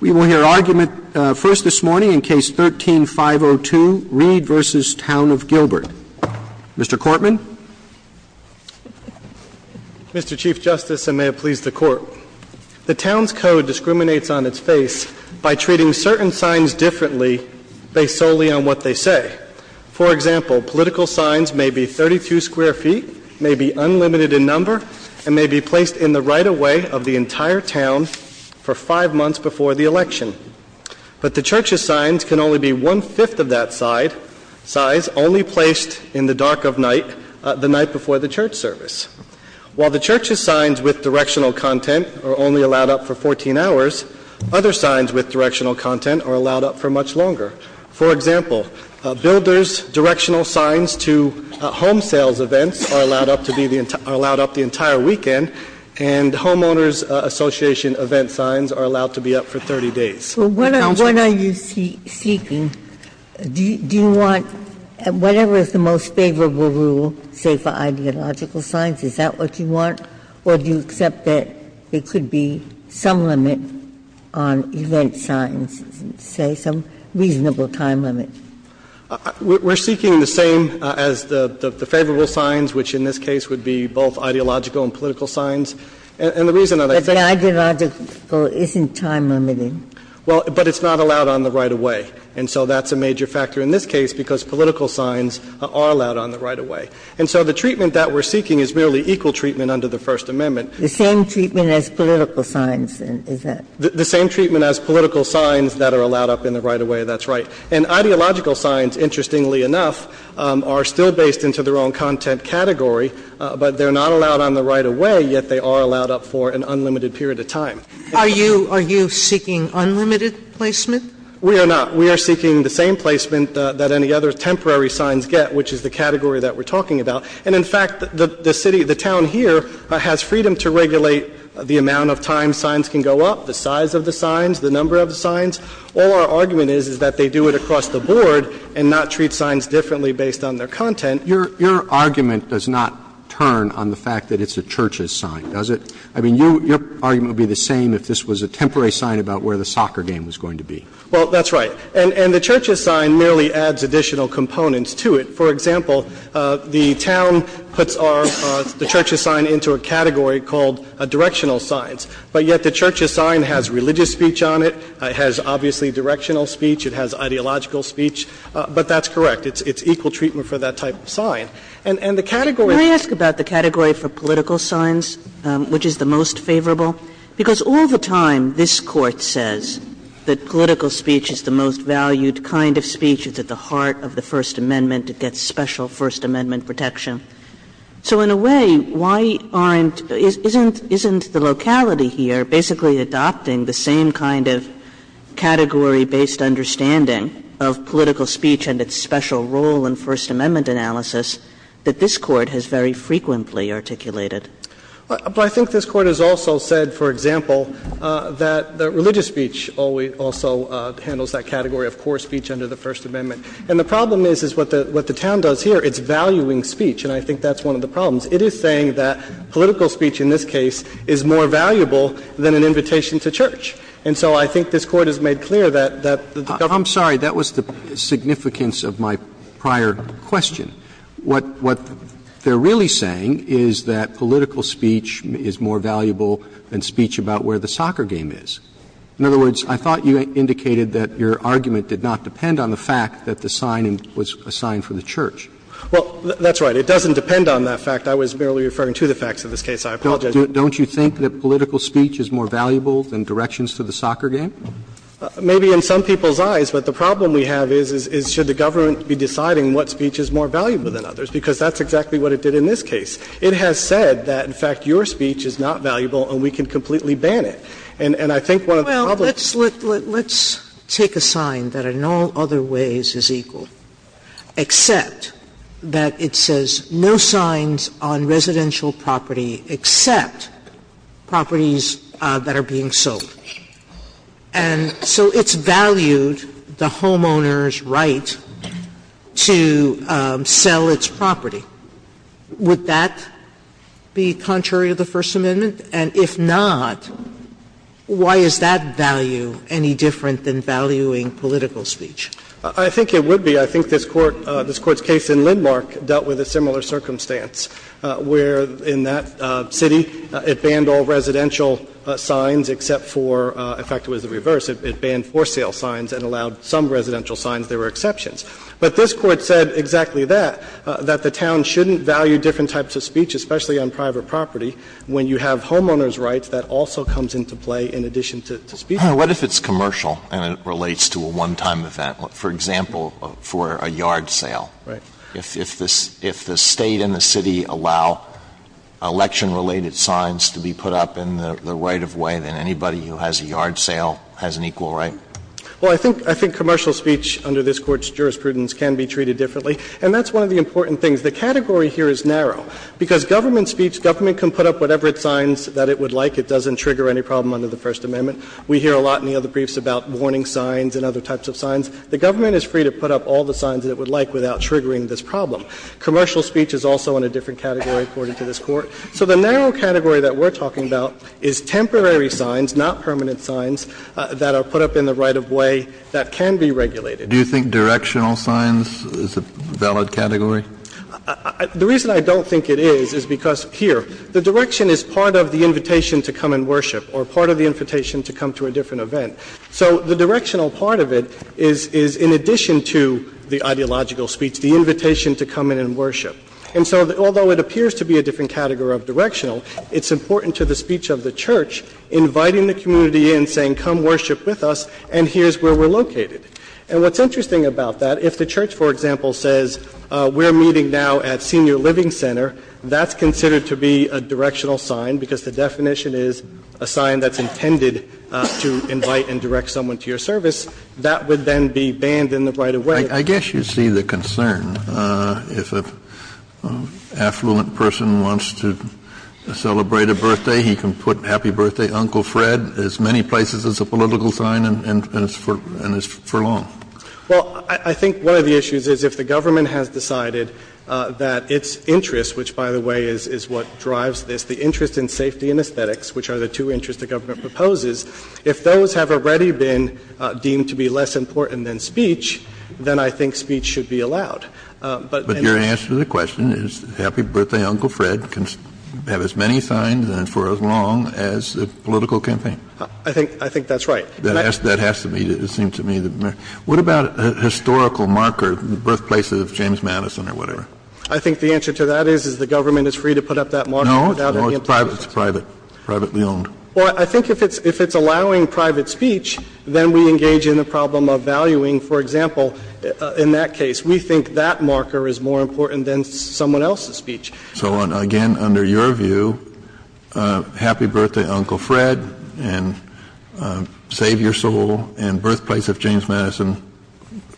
We will hear argument first this morning in Case 13-502, Reed v. Town of Gilbert. Mr. Cortman. Mr. Chief Justice, and may it please the Court, the Town's Code discriminates on its face by treating certain signs differently based solely on what they say. For example, political signs may be 32 square feet, may be unlimited in number, and may be placed in the right-of-way of the entire town for five months before the election. But the Church's signs can only be one-fifth of that size, only placed in the dark of night, the night before the Church service. While the Church's signs with directional content are only allowed up for 14 hours, other signs with directional content are allowed up for much longer. For example, builders' directional signs to home sales events are allowed up to be the entire entire weekend, and homeowners' association event signs are allowed to be up for 30 days. Ginsburg. What are you seeking? Do you want whatever is the most favorable rule, say, for ideological signs, is that what you want, or do you accept that there could be some limit on event signs, say, some reasonable time limit? We're seeking the same as the favorable signs, which in this case would be both ideological and political signs. And the reason that I think the ideological isn't time-limited. Well, but it's not allowed on the right-of-way, and so that's a major factor in this case, because political signs are allowed on the right-of-way. And so the treatment that we're seeking is merely equal treatment under the First Amendment. The same treatment as political signs, is that? The same treatment as political signs that are allowed up in the right-of-way, that's right. And ideological signs, interestingly enough, are still based into their own content category, but they're not allowed on the right-of-way, yet they are allowed up for an unlimited period of time. Are you seeking unlimited placement? We are not. We are seeking the same placement that any other temporary signs get, which is the category that we're talking about. And in fact, the city, the town here has freedom to regulate the amount of times signs can go up, the size of the signs, the number of the signs. All our argument is, is that they do it across the board and not treat signs differently based on their content. Your argument does not turn on the fact that it's a church's sign, does it? I mean, your argument would be the same if this was a temporary sign about where the soccer game was going to be. Well, that's right. And the church's sign merely adds additional components to it. For example, the town puts our church's sign into a category called directional signs, but yet the church's sign has religious speech on it, it has obviously directional speech, it has ideological speech, but that's correct. It's equal treatment for that type of sign. And the category of the church's sign is the same as the church's sign. Kagan. Can I ask about the category for political signs, which is the most favorable? Because all the time this Court says that political speech is the most valued kind of speech, it's at the heart of the First Amendment, it gets special First Amendment protection. So in a way, why aren't — isn't the locality here basically adopting the same kind of category-based understanding of political speech and its special role in First Amendment analysis that this Court has very frequently articulated? Well, I think this Court has also said, for example, that religious speech also handles that category of core speech under the First Amendment. And the problem is, is what the town does here, it's valuing speech. And I think that's one of the problems. It is saying that political speech in this case is more valuable than an invitation to church. And so I think this Court has made clear that the government's role in the First Amendment is more valuable than the church's role in the First Amendment. Roberts. I'm sorry. That was the significance of my prior question. What they're really saying is that political speech is more valuable than speech about where the soccer game is. In other words, I thought you indicated that your argument did not depend on the fact that the sign was a sign for the church. Well, that's right. It doesn't depend on that fact. I was merely referring to the facts of this case. I apologize. Don't you think that political speech is more valuable than directions to the soccer game? Maybe in some people's eyes, but the problem we have is, is should the government be deciding what speech is more valuable than others, because that's exactly what it did in this case. It has said that, in fact, your speech is not valuable and we can completely ban it. And I think one of the problems is that— Well, let's take a sign that in all other ways is equal, except that it says no signs on residential property except properties that are being sold. And so it's valued the homeowner's right to sell its property. Would that be contrary to the First Amendment? And if not, why is that value any different than valuing political speech? I think it would be. I think this Court's case in Lindmark dealt with a similar circumstance, where in that city it banned all residential signs except for – in fact, it was the reverse. It banned for sale signs and allowed some residential signs. There were exceptions. But this Court said exactly that, that the town shouldn't value different types of speech, especially on private property, when you have homeowner's rights that also comes into play in addition to speech. What if it's commercial and it relates to a one-time event, for example, for a yard sale? Right. If the State and the city allow election-related signs to be put up in the right of way, then anybody who has a yard sale has an equal right? Well, I think commercial speech under this Court's jurisprudence can be treated differently. And that's one of the important things. The category here is narrow. Because government speech, government can put up whatever signs that it would like. It doesn't trigger any problem under the First Amendment. We hear a lot in the other briefs about warning signs and other types of signs. The government is free to put up all the signs that it would like without triggering this problem. Commercial speech is also in a different category, according to this Court. So the narrow category that we're talking about is temporary signs, not permanent signs, that are put up in the right of way that can be regulated. Do you think directional signs is a valid category? The reason I don't think it is, is because here, the direction is part of the invitation to come and worship, or part of the invitation to come to a different event. So the directional part of it is in addition to the ideological speech, the invitation to come in and worship. And so although it appears to be a different category of directional, it's important to the speech of the Church, inviting the community in, saying, come worship with us, and here's where we're located. And what's interesting about that, if the Church, for example, says we're meeting now at Senior Living Center, that's considered to be a directional sign, because the definition is a sign that's intended to invite and direct someone to your service. That would then be banned in the right of way. Kennedy, I guess you see the concern. If an affluent person wants to celebrate a birthday, he can put happy birthday Uncle Fred as many places as a political sign and it's for long. Well, I think one of the issues is if the government has decided that its interest, which by the way is what drives this, the interest in safety and aesthetics, which are the two interests the government proposes, if those have already been deemed to be less important than speech, then I think speech should be allowed. But your answer to the question is happy birthday Uncle Fred can have as many signs and for as long as a political campaign. I think that's right. That has to be, it seems to me. What about a historical marker, the birthplace of James Madison or whatever? I think the answer to that is the government is free to put up that marker without any implications. No, it's private, it's privately owned. Well, I think if it's allowing private speech, then we engage in a problem of valuing. For example, in that case, we think that marker is more important than someone else's speech. So again, under your view, happy birthday Uncle Fred and save your soul and birthplace of James Madison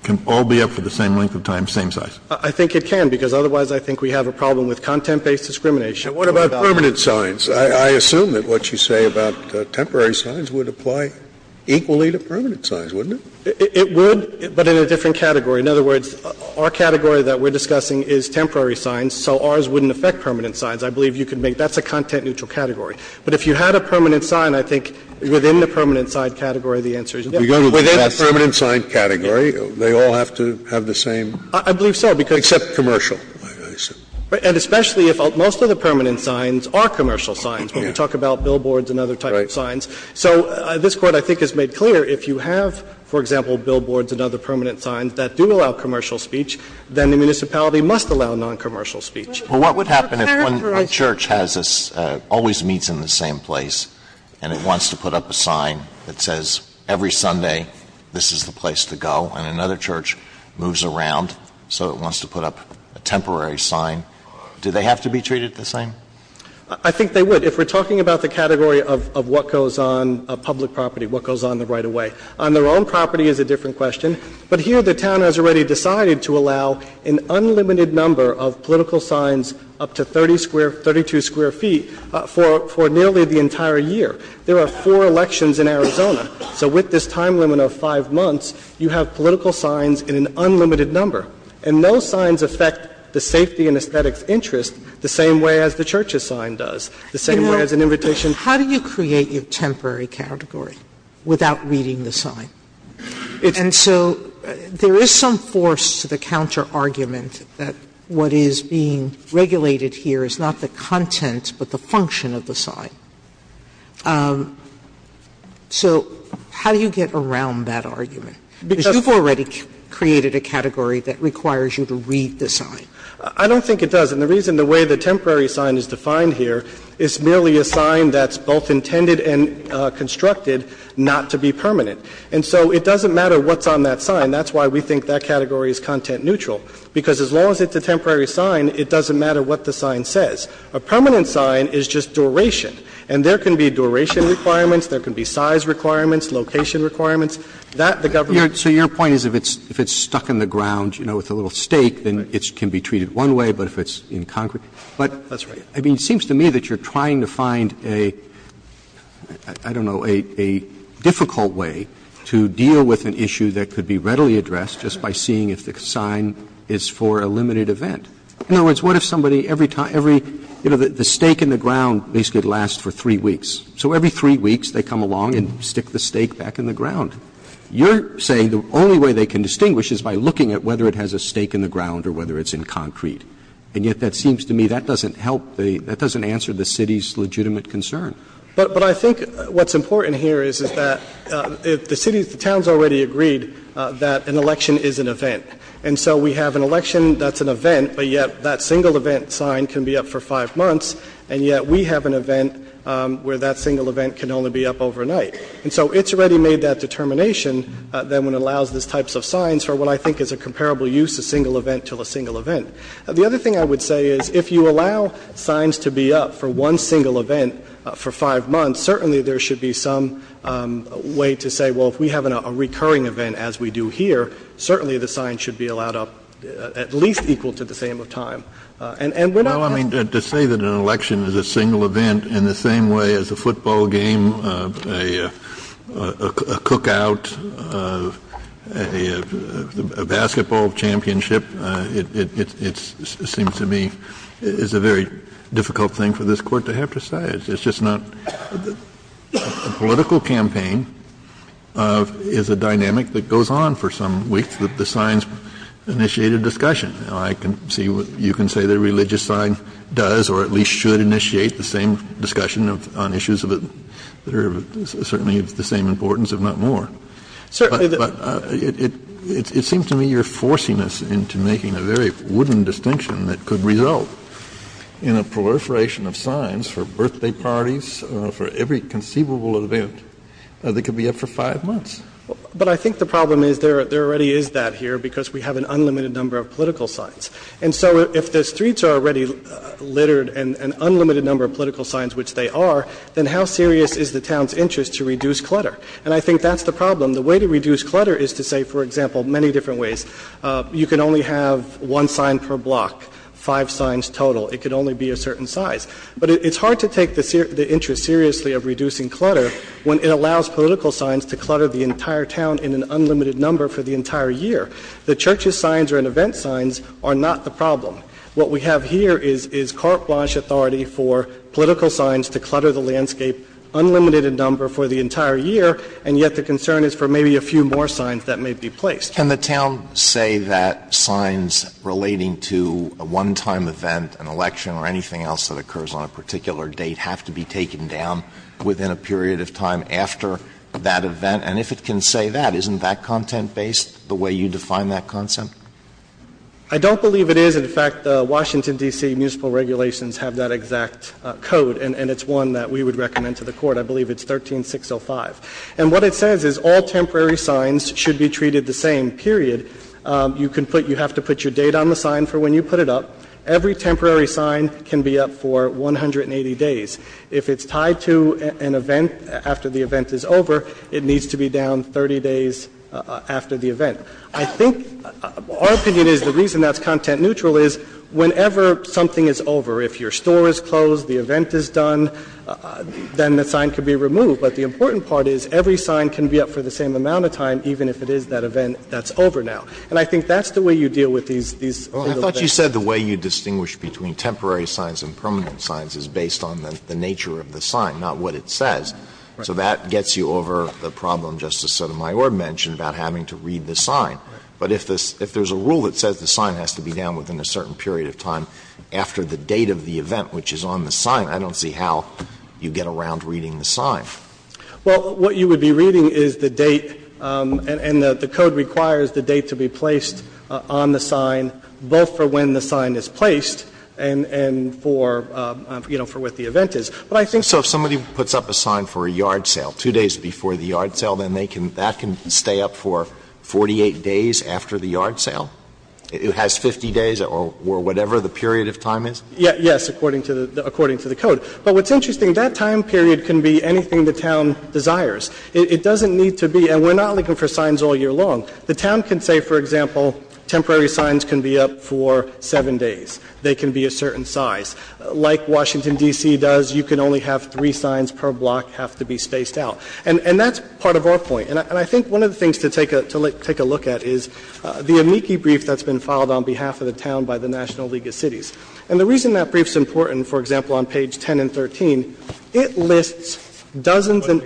can all be up for the same length of time, same size? I think it can, because otherwise I think we have a problem with content-based discrimination. And what about permanent signs? I assume that what you say about temporary signs would apply equally to permanent signs, wouldn't it? It would, but in a different category. In other words, our category that we're discussing is temporary signs, so ours wouldn't affect permanent signs. I believe you could make that's a content-neutral category. But if you had a permanent sign, I think within the permanent sign category, the answer is yes. Scalia, within the permanent sign category, they all have to have the same? I believe so, because Except commercial, I assume. And especially if most of the permanent signs are commercial signs, when we talk about billboards and other types of signs. So this Court, I think, has made clear if you have, for example, billboards and other permanent signs that do allow commercial speech, then the municipality must allow noncommercial speech. But what would happen if one church has a always meets in the same place, and it wants to put up a sign that says every Sunday, this is the place to go, and another church moves around, so it wants to put up a temporary sign, do they have to be treated the same? I think they would. If we're talking about the category of what goes on public property, what goes on the right-of-way. On their own property is a different question. But here the town has already decided to allow an unlimited number of political signs up to 32 square feet for nearly the entire year. There are four elections in Arizona, so with this time limit of five months, you have political signs in an unlimited number. And those signs affect the safety and aesthetics interest the same way as the church's sign does, the same way as an invitation. How do you create your temporary category without reading the sign? And so there is some force to the counterargument that what is being regulated here is not the content, but the function of the sign. So how do you get around that argument? Because you've already created a category that requires you to read the sign. I don't think it does. And the reason the way the temporary sign is defined here is merely a sign that's both intended and constructed not to be permanent. And so it doesn't matter what's on that sign. That's why we think that category is content neutral, because as long as it's a temporary sign, it doesn't matter what the sign says. A permanent sign is just duration. And there can be duration requirements, there can be size requirements, location That, the government doesn't care. Roberts. Roberts. So your point is if it's stuck in the ground, you know, with a little stake, then it can be treated one way, but if it's in concrete. That's right. I mean, it seems to me that you're trying to find a, I don't know, a difficult way to deal with an issue that could be readily addressed just by seeing if the sign is for a limited event. In other words, what if somebody every time, every, you know, the stake in the ground basically lasts for three weeks. So every three weeks they come along and stick the stake back in the ground. You're saying the only way they can distinguish is by looking at whether it has a stake in the ground or whether it's in concrete. And yet that seems to me that doesn't help the, that doesn't answer the city's legitimate concern. But I think what's important here is that the city, the town has already agreed that an election is an event. And so we have an election that's an event, but yet that single event sign can be up for five months, and yet we have an event where that single event can only be up overnight. And so it's already made that determination that when it allows these types of signs for what I think is a comparable use, a single event to a single event. The other thing I would say is if you allow signs to be up for one single event for five months, certainly there should be some way to say, well, if we have a recurring event as we do here, certainly the sign should be allowed up at least equal to the same of time. And we're not going to say that an election is a single event in the same way as a football game, a cookout, a basketball championship. It seems to me it's a very difficult thing for this Court to have to say. It's just not the political campaign is a dynamic that goes on for some weeks that the signs initiate a discussion. I can see you can say the religious sign does or at least should initiate the same discussion on issues that are certainly of the same importance, if not more. But it seems to me you're forcing us into making a very wooden distinction that could result in a proliferation of signs for birthday parties, for every conceivable event that could be up for five months. But I think the problem is there already is that here because we have an unlimited number of political signs. And so if the streets are already littered and an unlimited number of political signs, which they are, then how serious is the town's interest to reduce clutter? And I think that's the problem. The way to reduce clutter is to say, for example, many different ways. You can only have one sign per block, five signs total. It can only be a certain size. But it's hard to take the interest seriously of reducing clutter when it allows political signs to clutter the entire town in an unlimited number for the entire year. The church's signs or an event signs are not the problem. What we have here is carte blanche authority for political signs to clutter the landscape in an unlimited number for the entire year, and yet the concern is for maybe a few more signs that may be placed. Alitoson Can the town say that signs relating to a one-time event, an election or anything else that occurs on a particular date have to be taken down within a period of time after that event? And if it can say that, isn't that content-based, the way you define that content? I don't believe it is. In fact, the Washington, D.C. municipal regulations have that exact code, and it's one that we would recommend to the Court. I believe it's 13605. And what it says is all temporary signs should be treated the same, period. You can put you have to put your date on the sign for when you put it up. Every temporary sign can be up for 180 days. If it's tied to an event after the event is over, it needs to be down 30 days after the event. I think our opinion is the reason that's content-neutral is whenever something is over, if your store is closed, the event is done, then the sign can be removed. But the important part is every sign can be up for the same amount of time, even if it is that event that's over now. And I think that's the way you deal with these little things. Alitoson I thought you said the way you distinguish between temporary signs and permanent signs is based on the nature of the sign, not what it says. So that gets you over the problem Justice Sotomayor mentioned about having to read the sign. But if there's a rule that says the sign has to be down within a certain period of time after the date of the event, which is on the sign, I don't see how you get around reading the sign. Well, what you would be reading is the date, and the code requires the date to be placed on the sign, both for when the sign is placed and for, you know, for what the event is. But I think so if somebody puts up a sign for a yard sale, two days before the yard sale, then that can stay up for 48 days after the yard sale. It has 50 days or whatever the period of time is? Yes, according to the code. But what's interesting, that time period can be anything the town desires. It doesn't need to be – and we're not looking for signs all year long. The town can say, for example, temporary signs can be up for 7 days. They can be a certain size. Like Washington, D.C. does, you can only have three signs per block have to be spaced out. And that's part of our point. And I think one of the things to take a look at is the amici brief that's been filed on behalf of the town by the National League of Cities. And the reason that brief's important, for example, on page 10 and 13, it lists dozens in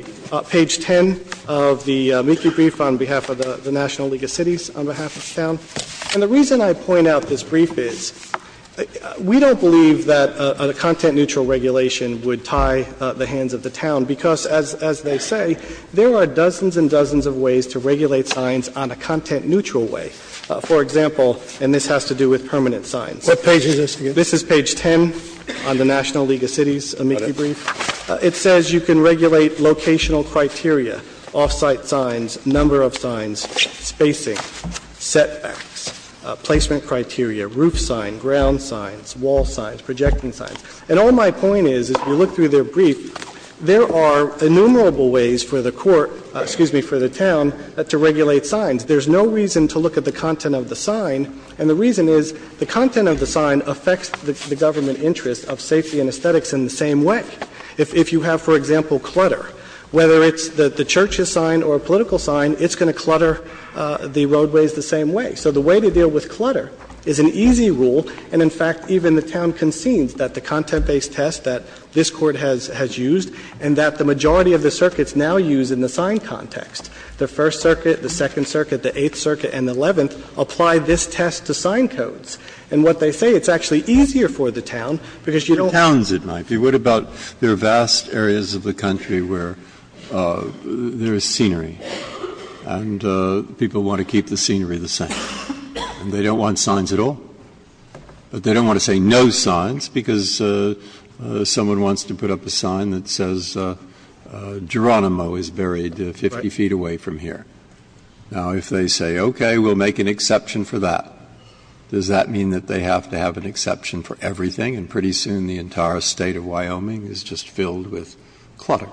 page 10 of the amici brief on behalf of the National League of Cities on behalf of the town. And the reason I point out this brief is, we don't believe that a content-neutral regulation would tie the hands of the town, because as they say, there are dozens and dozens of ways to regulate signs on a content-neutral way. For example, and this has to do with permanent signs. What page is this again? This is page 10 on the National League of Cities amici brief. It says you can regulate locational criteria, off-site signs, number of signs, spacing, setbacks, placement criteria, roof sign, ground signs, wall signs, projecting signs. And all my point is, if you look through their brief, there are innumerable ways for the court, excuse me, for the town to regulate signs. There's no reason to look at the content of the sign, and the reason is, the content of the sign affects the government interest of safety and aesthetics in the same way. If you have, for example, clutter, whether it's the church's sign or a political sign, it's going to clutter the roadways the same way. So the way to deal with clutter is an easy rule, and in fact, even the town concedes that the content-based test that this Court has used and that the majority of the circuits now use in the sign context. The First Circuit, the Second Circuit, the Eighth Circuit, and the Eleventh apply this test to sign codes. And what they say, it's actually easier for the town, because you don't have to. Breyer, what about there are vast areas of the country where there is scenery, and people want to keep the scenery the same, and they don't want signs at all? But they don't want to say no signs, because someone wants to put up a sign that says Geronimo is buried 50 feet away from here. Now, if they say, okay, we'll make an exception for that, does that mean that they have to have an exception for everything, and pretty soon the entire State of Wyoming is just filled with clutter?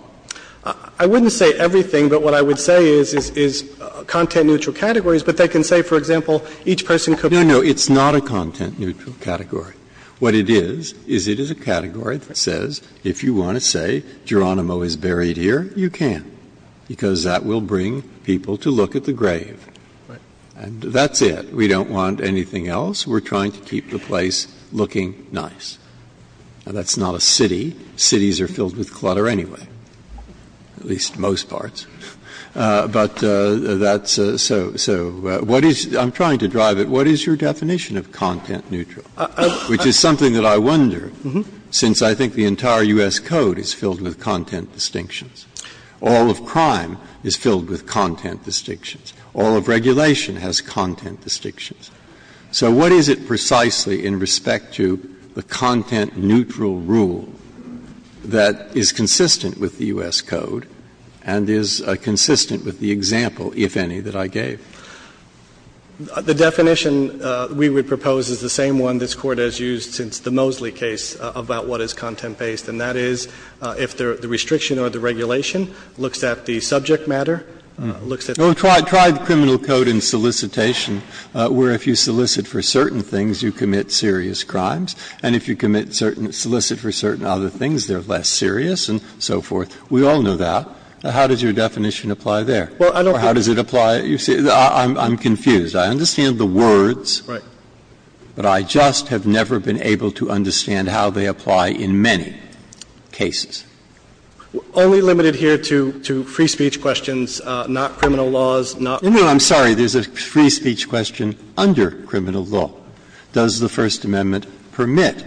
I wouldn't say everything, but what I would say is content-neutral categories, but they can say, for example, each person could be. Breyer, no, no, it's not a content-neutral category. What it is, is it is a category that says, if you want to say Geronimo is buried here, you can, because that will bring people to look at the grave. And that's it. We don't want anything else. We're trying to keep the place looking nice. Now, that's not a city. Cities are filled with clutter anyway, at least most parts. But that's a so what is, I'm trying to drive it, what is your definition of content-neutral? Which is something that I wonder, since I think the entire U.S. Code is filled with content distinctions. All of crime is filled with content distinctions. All of regulation has content distinctions. So what is it precisely in respect to the content-neutral rule that is consistent with the U.S. Code and is consistent with the example, if any, that I gave? The definition we would propose is the same one this Court has used since the Mosley case about what is content-based, and that is, if the restriction or the regulation looks at the subject matter, looks at the subject matter. No, try the criminal code in solicitation, where if you solicit for certain things, you commit serious crimes. And if you commit certain or solicit for certain other things, they are less serious and so forth. We all know that. How does your definition apply there? Or how does it apply, you see, I'm confused. I understand the words, but I just have never been able to understand how they apply in many cases. Only limited here to free speech questions, not criminal laws, not. No, no, I'm sorry, there's a free speech question under criminal law. Does the First Amendment permit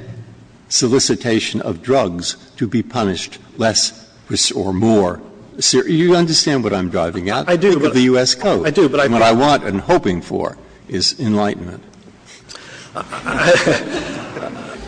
solicitation of drugs to be punished less or more serious? You understand what I'm driving at? I do. Because of the U.S. Code. I do, but I think. What I want and hoping for is enlightenment.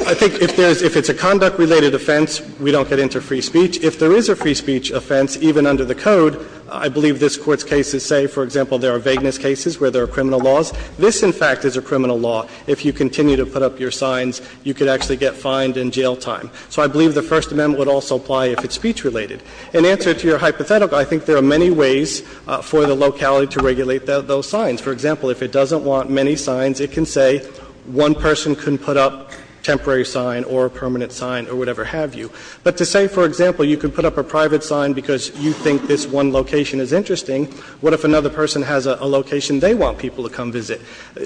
I think if there's – if it's a conduct-related offense, we don't get into free speech. If there is a free speech offense, even under the code, I believe this Court's cases say, for example, there are vagueness cases where there are criminal laws. This, in fact, is a criminal law. If you continue to put up your signs, you could actually get fined and jail time. So I believe the First Amendment would also apply if it's speech-related. In answer to your hypothetical, I think there are many ways for the locality to regulate those signs. For example, if it doesn't want many signs, it can say one person can put up a temporary sign or a permanent sign or whatever have you. But to say, for example, you can put up a private sign because you think this one location is interesting, what if another person has a location they want people to come visit?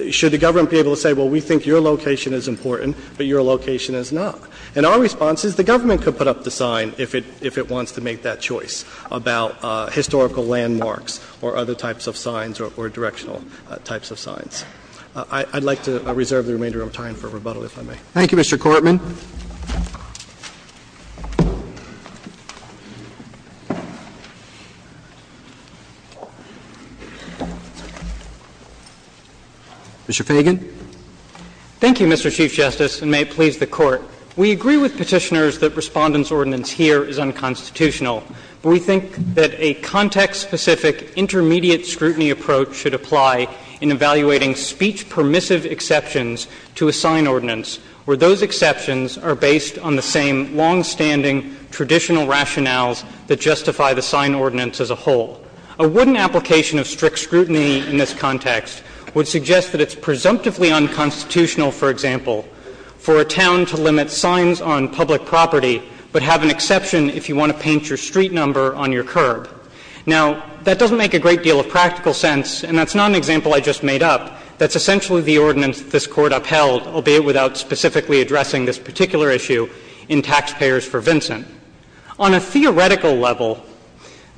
Should the government be able to say, well, we think your location is important, but your location is not? And our response is the government could put up the sign if it wants to make that choice about historical landmarks or other types of signs or directional types of signs. I'd like to reserve the remainder of time for rebuttal, if I may. Thank you, Mr. Courtman. Mr. Fagan. Thank you, Mr. Chief Justice, and may it please the Court. We agree with petitioners that Respondent's ordinance here is unconstitutional. We think that a context-specific intermediate scrutiny approach should apply in evaluating speech permissive exceptions to a sign ordinance where those exceptions are based on the same longstanding traditional rationales that justify the sign ordinance as a whole. A wooden application of strict scrutiny in this context would suggest that it's presumptively unconstitutional, for example, for a town to limit signs on public property but have an exception if you want to paint your street number on your curb. Now, that doesn't make a great deal of practical sense, and that's not an example I just made up. That's essentially the ordinance this Court upheld, albeit without specifically addressing this particular issue in Taxpayers for Vincent. On a theoretical level,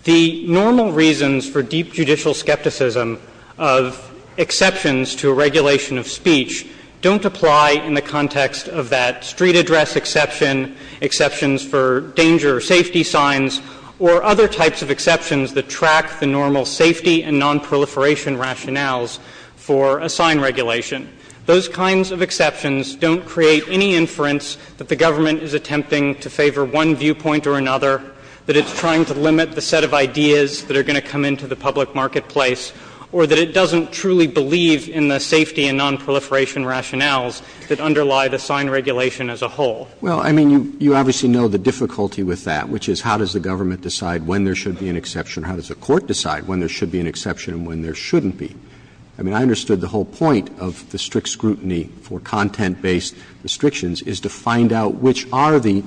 the normal reasons for deep judicial skepticism of exceptions to a regulation of speech don't apply in the context of that street address exception, exceptions for danger or safety signs, or other types of exceptions that track the normal safety and nonproliferation rationales for a sign regulation. Those kinds of exceptions don't create any inference that the government is attempting to favor one viewpoint or another, that it's trying to limit the set of ideas that are going to come into the public marketplace, or that it doesn't truly believe in the safety and nonproliferation rationales that underlie the sign regulation as a whole. Roberts. Well, I mean, you obviously know the difficulty with that, which is how does the government decide when there should be an exception, or how does a court decide when there should be an exception and when there shouldn't be? I mean, I understood the whole point of the strict scrutiny for content-based restrictions is to find out which are the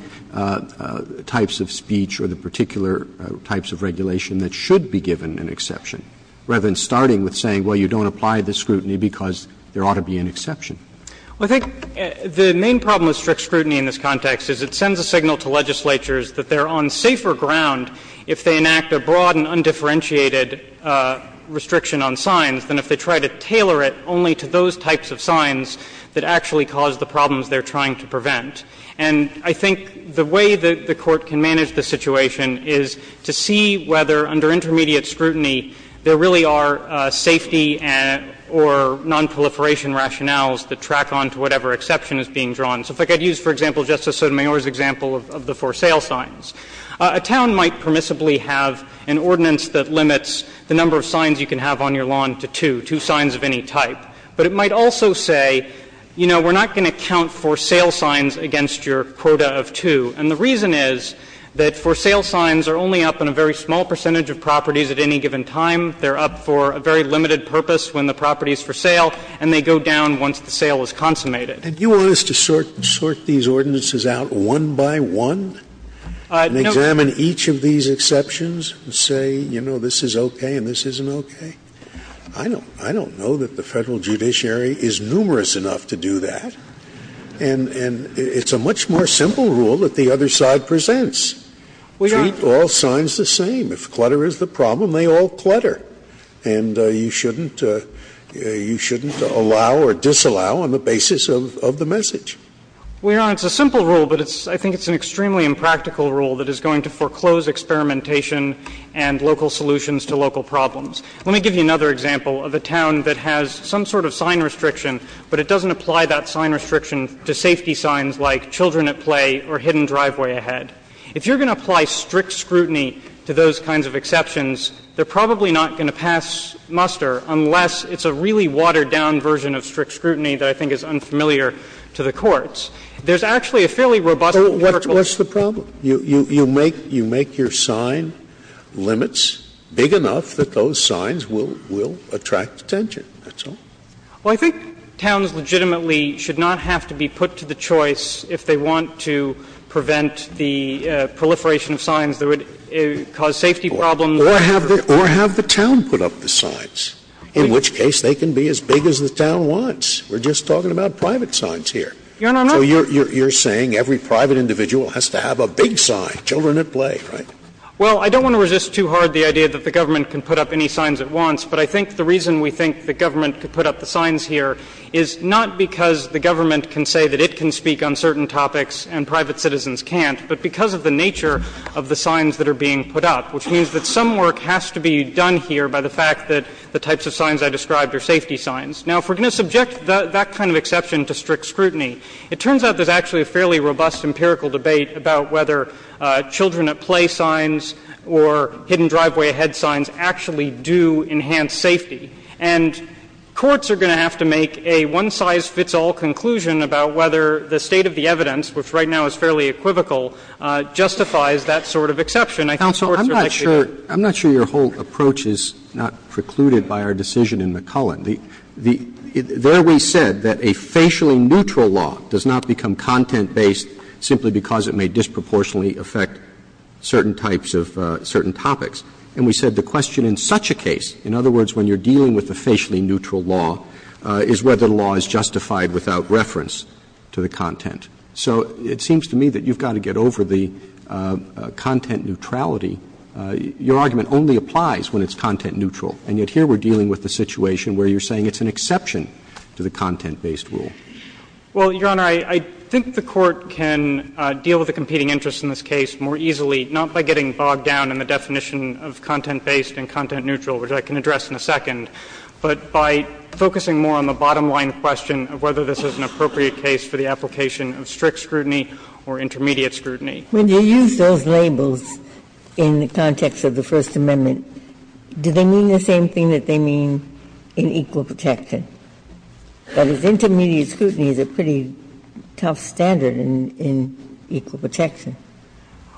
types of speech or the particular types of regulation that should be given an exception, rather than starting with saying, well, you don't apply the scrutiny because there ought to be an exception. Well, I think the main problem with strict scrutiny in this context is it sends a signal to legislatures that they're on safer ground if they enact a broad and undifferentiated restriction on signs than if they try to tailor it only to those types of signs that actually cause the problems they're trying to prevent. And I think the way that the Court can manage the situation is to see whether, under intermediate scrutiny, there really are safety or nonproliferation rationales that track on to whatever exception is being drawn. So if I could use, for example, Justice Sotomayor's example of the for sale signs. A town might permissibly have an ordinance that limits the number of signs you can have on your lawn to two, two signs of any type. But it might also say, you know, we're not going to count for sale signs against your quota of two. And the reason is that for sale signs are only up in a very small percentage of properties at any given time. They're up for a very limited purpose when the property is for sale, and they go down once the sale is consummated. Scalia. And you want us to sort these ordinances out one by one? And examine each of these exceptions and say, you know, this is okay and this isn't okay? I don't know that the Federal judiciary is numerous enough to do that. And it's a much more simple rule that the other side presents. Treat all signs the same. If clutter is the problem, they all clutter. And you shouldn't allow or disallow on the basis of the message. Well, Your Honor, it's a simple rule, but I think it's an extremely impractical rule that is going to foreclose experimentation and local solutions to local problems. Let me give you another example of a town that has some sort of sign restriction, but it doesn't apply that sign restriction to safety signs like children at play or hidden driveway ahead. If you're going to apply strict scrutiny to those kinds of exceptions, they're probably not going to pass muster unless it's a really watered-down version of strict scrutiny that I think is unfamiliar to the courts. There's actually a fairly robust protocol. Scalia. What's the problem? You make your sign limits big enough that those signs will attract attention. That's all. Well, I think towns legitimately should not have to be put to the choice if they want to prevent the proliferation of signs that would cause safety problems. Or have the town put up the signs, in which case they can be as big as the town wants. We're just talking about private signs here. Your Honor, I'm not. So you're saying every private individual has to have a big sign, children at play, right? Well, I don't want to resist too hard the idea that the government can put up any signs it wants, but I think the reason we think the government could put up the signs here is not because the government can say that it can speak on certain topics and private citizens can't, but because of the nature of the signs that are being put up, which means that some work has to be done here by the fact that the types of signs I described are safety signs. Now, if we're going to subject that kind of exception to strict scrutiny, it turns out there's actually a fairly robust empirical debate about whether children at play signs or hidden driveway ahead signs actually do enhance safety. And courts are going to have to make a one-size-fits-all conclusion about whether the state of the evidence, which right now is fairly equivocal, justifies that sort of exception. I think courts are likely to do that. Roberts, I'm not sure your whole approach is not precluded by our decision in McCullen. There we said that a facially neutral law does not become content-based simply because it may disproportionately affect certain types of certain topics. And we said the question in such a case, in other words, when you're dealing with a facially neutral law, is whether the law is justified without reference to the content. So it seems to me that you've got to get over the content neutrality. Your argument only applies when it's content neutral, and yet here we're dealing with a situation where you're saying it's an exception to the content-based rule. Well, Your Honor, I think the Court can deal with the competing interests in this case more easily, not by getting bogged down in the definition of content-based and content-neutral, which I can address in a second, but by focusing more on the bottom-line question of whether this is an appropriate case for the application of strict scrutiny or intermediate scrutiny. Ginsburg-Miller When you use those labels in the context of the First Amendment, do they mean the same thing that they mean in equal protection? That is, intermediate scrutiny is a pretty tough standard in equal protection.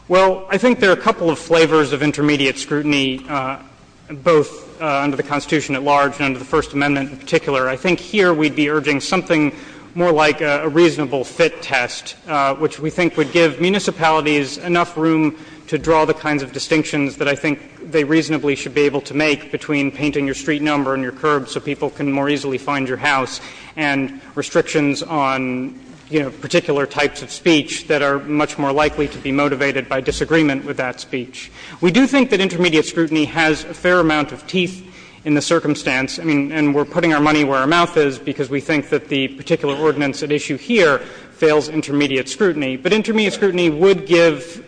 Well, I think there are a couple of flavors of intermediate scrutiny, both under the Constitution at large and under the First Amendment in particular. I think here we'd be urging something more like a reasonable fit test, which we think would give municipalities enough room to draw the kinds of distinctions that I think they reasonably should be able to make between painting your street number and your street number and saying, hey, you know, you can't possibly find your house, and restrictions on, you know, particular types of speech that are much more likely to be motivated by disagreement with that speech. We do think that intermediate scrutiny has a fair amount of teeth in the circumstance, and we're putting our money where our mouth is because we think that the particular ordinance at issue here fails intermediate scrutiny. But intermediate scrutiny would give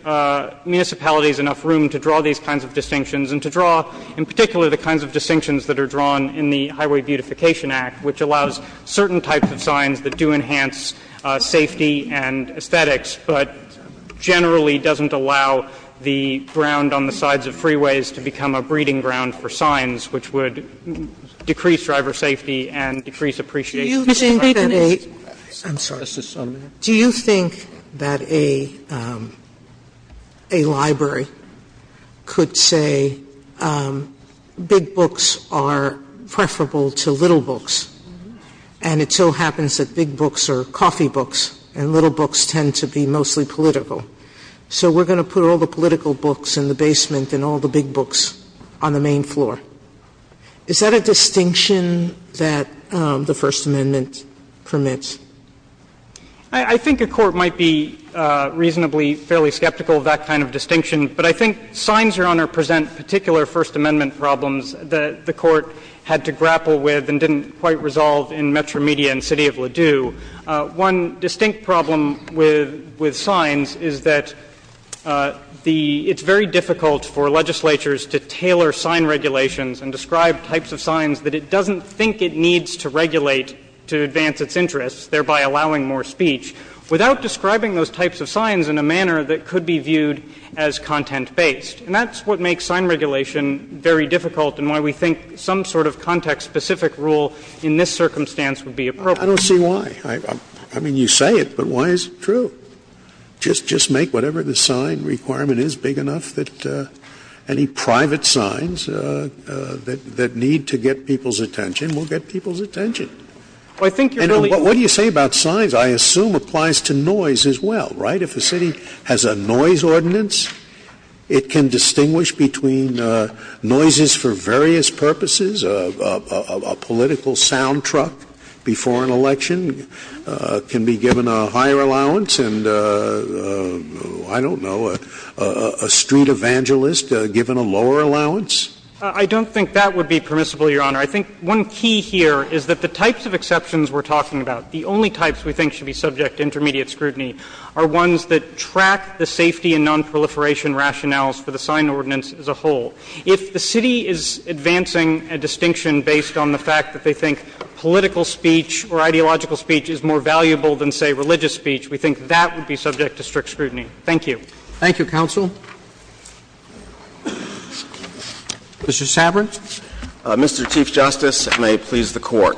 municipalities enough room to draw these kinds of distinctions and to draw, in particular, the kinds of distinctions that are drawn in the Highway Beautification Act, which allows certain types of signs that do enhance safety and aesthetics, but generally doesn't allow the ground on the sides of freeways to become a breeding ground for signs, which would decrease driver safety and decrease appreciation of traffic. Sotomayor, do you think that a do you think that a, a library could set up a freeway that would allow, say, big books are preferable to little books, and it so happens that big books are coffee books and little books tend to be mostly political. So we're going to put all the political books in the basement and all the big books on the main floor. Is that a distinction that the First Amendment permits? I think a court might be reasonably, fairly skeptical of that kind of distinction. But I think signs, Your Honor, present particular First Amendment problems that the Court had to grapple with and didn't quite resolve in Metro Media and City of Ladue. One distinct problem with, with signs is that the — it's very difficult for legislatures to tailor sign regulations and describe types of signs that it doesn't think it needs to regulate to advance its interests, thereby allowing more speech, without describing those types of signs in a manner that could be viewed as content-based. And that's what makes sign regulation very difficult and why we think some sort of context-specific rule in this circumstance would be appropriate. Scalia, I don't see why. I mean, you say it, but why is it true? Just, just make whatever the sign requirement is big enough that any private signs that, that need to get people's attention will get people's attention. Well, I think you're really— And what do you say about signs? I assume applies to noise as well, right? If a city has a noise ordinance, it can distinguish between noises for various purposes, a political sound truck before an election can be given a higher allowance and, I don't know, a street evangelist given a lower allowance? I don't think that would be permissible, Your Honor. I think one key here is that the types of exceptions we're talking about, the only types we think should be subject to intermediate scrutiny, are ones that track the safety and nonproliferation rationales for the sign ordinance as a whole. If the city is advancing a distinction based on the fact that they think political speech or ideological speech is more valuable than, say, religious speech, we think that would be subject to strict scrutiny. Thank you. Thank you, counsel. Mr. Sabrin. Mr. Chief Justice, and may it please the Court.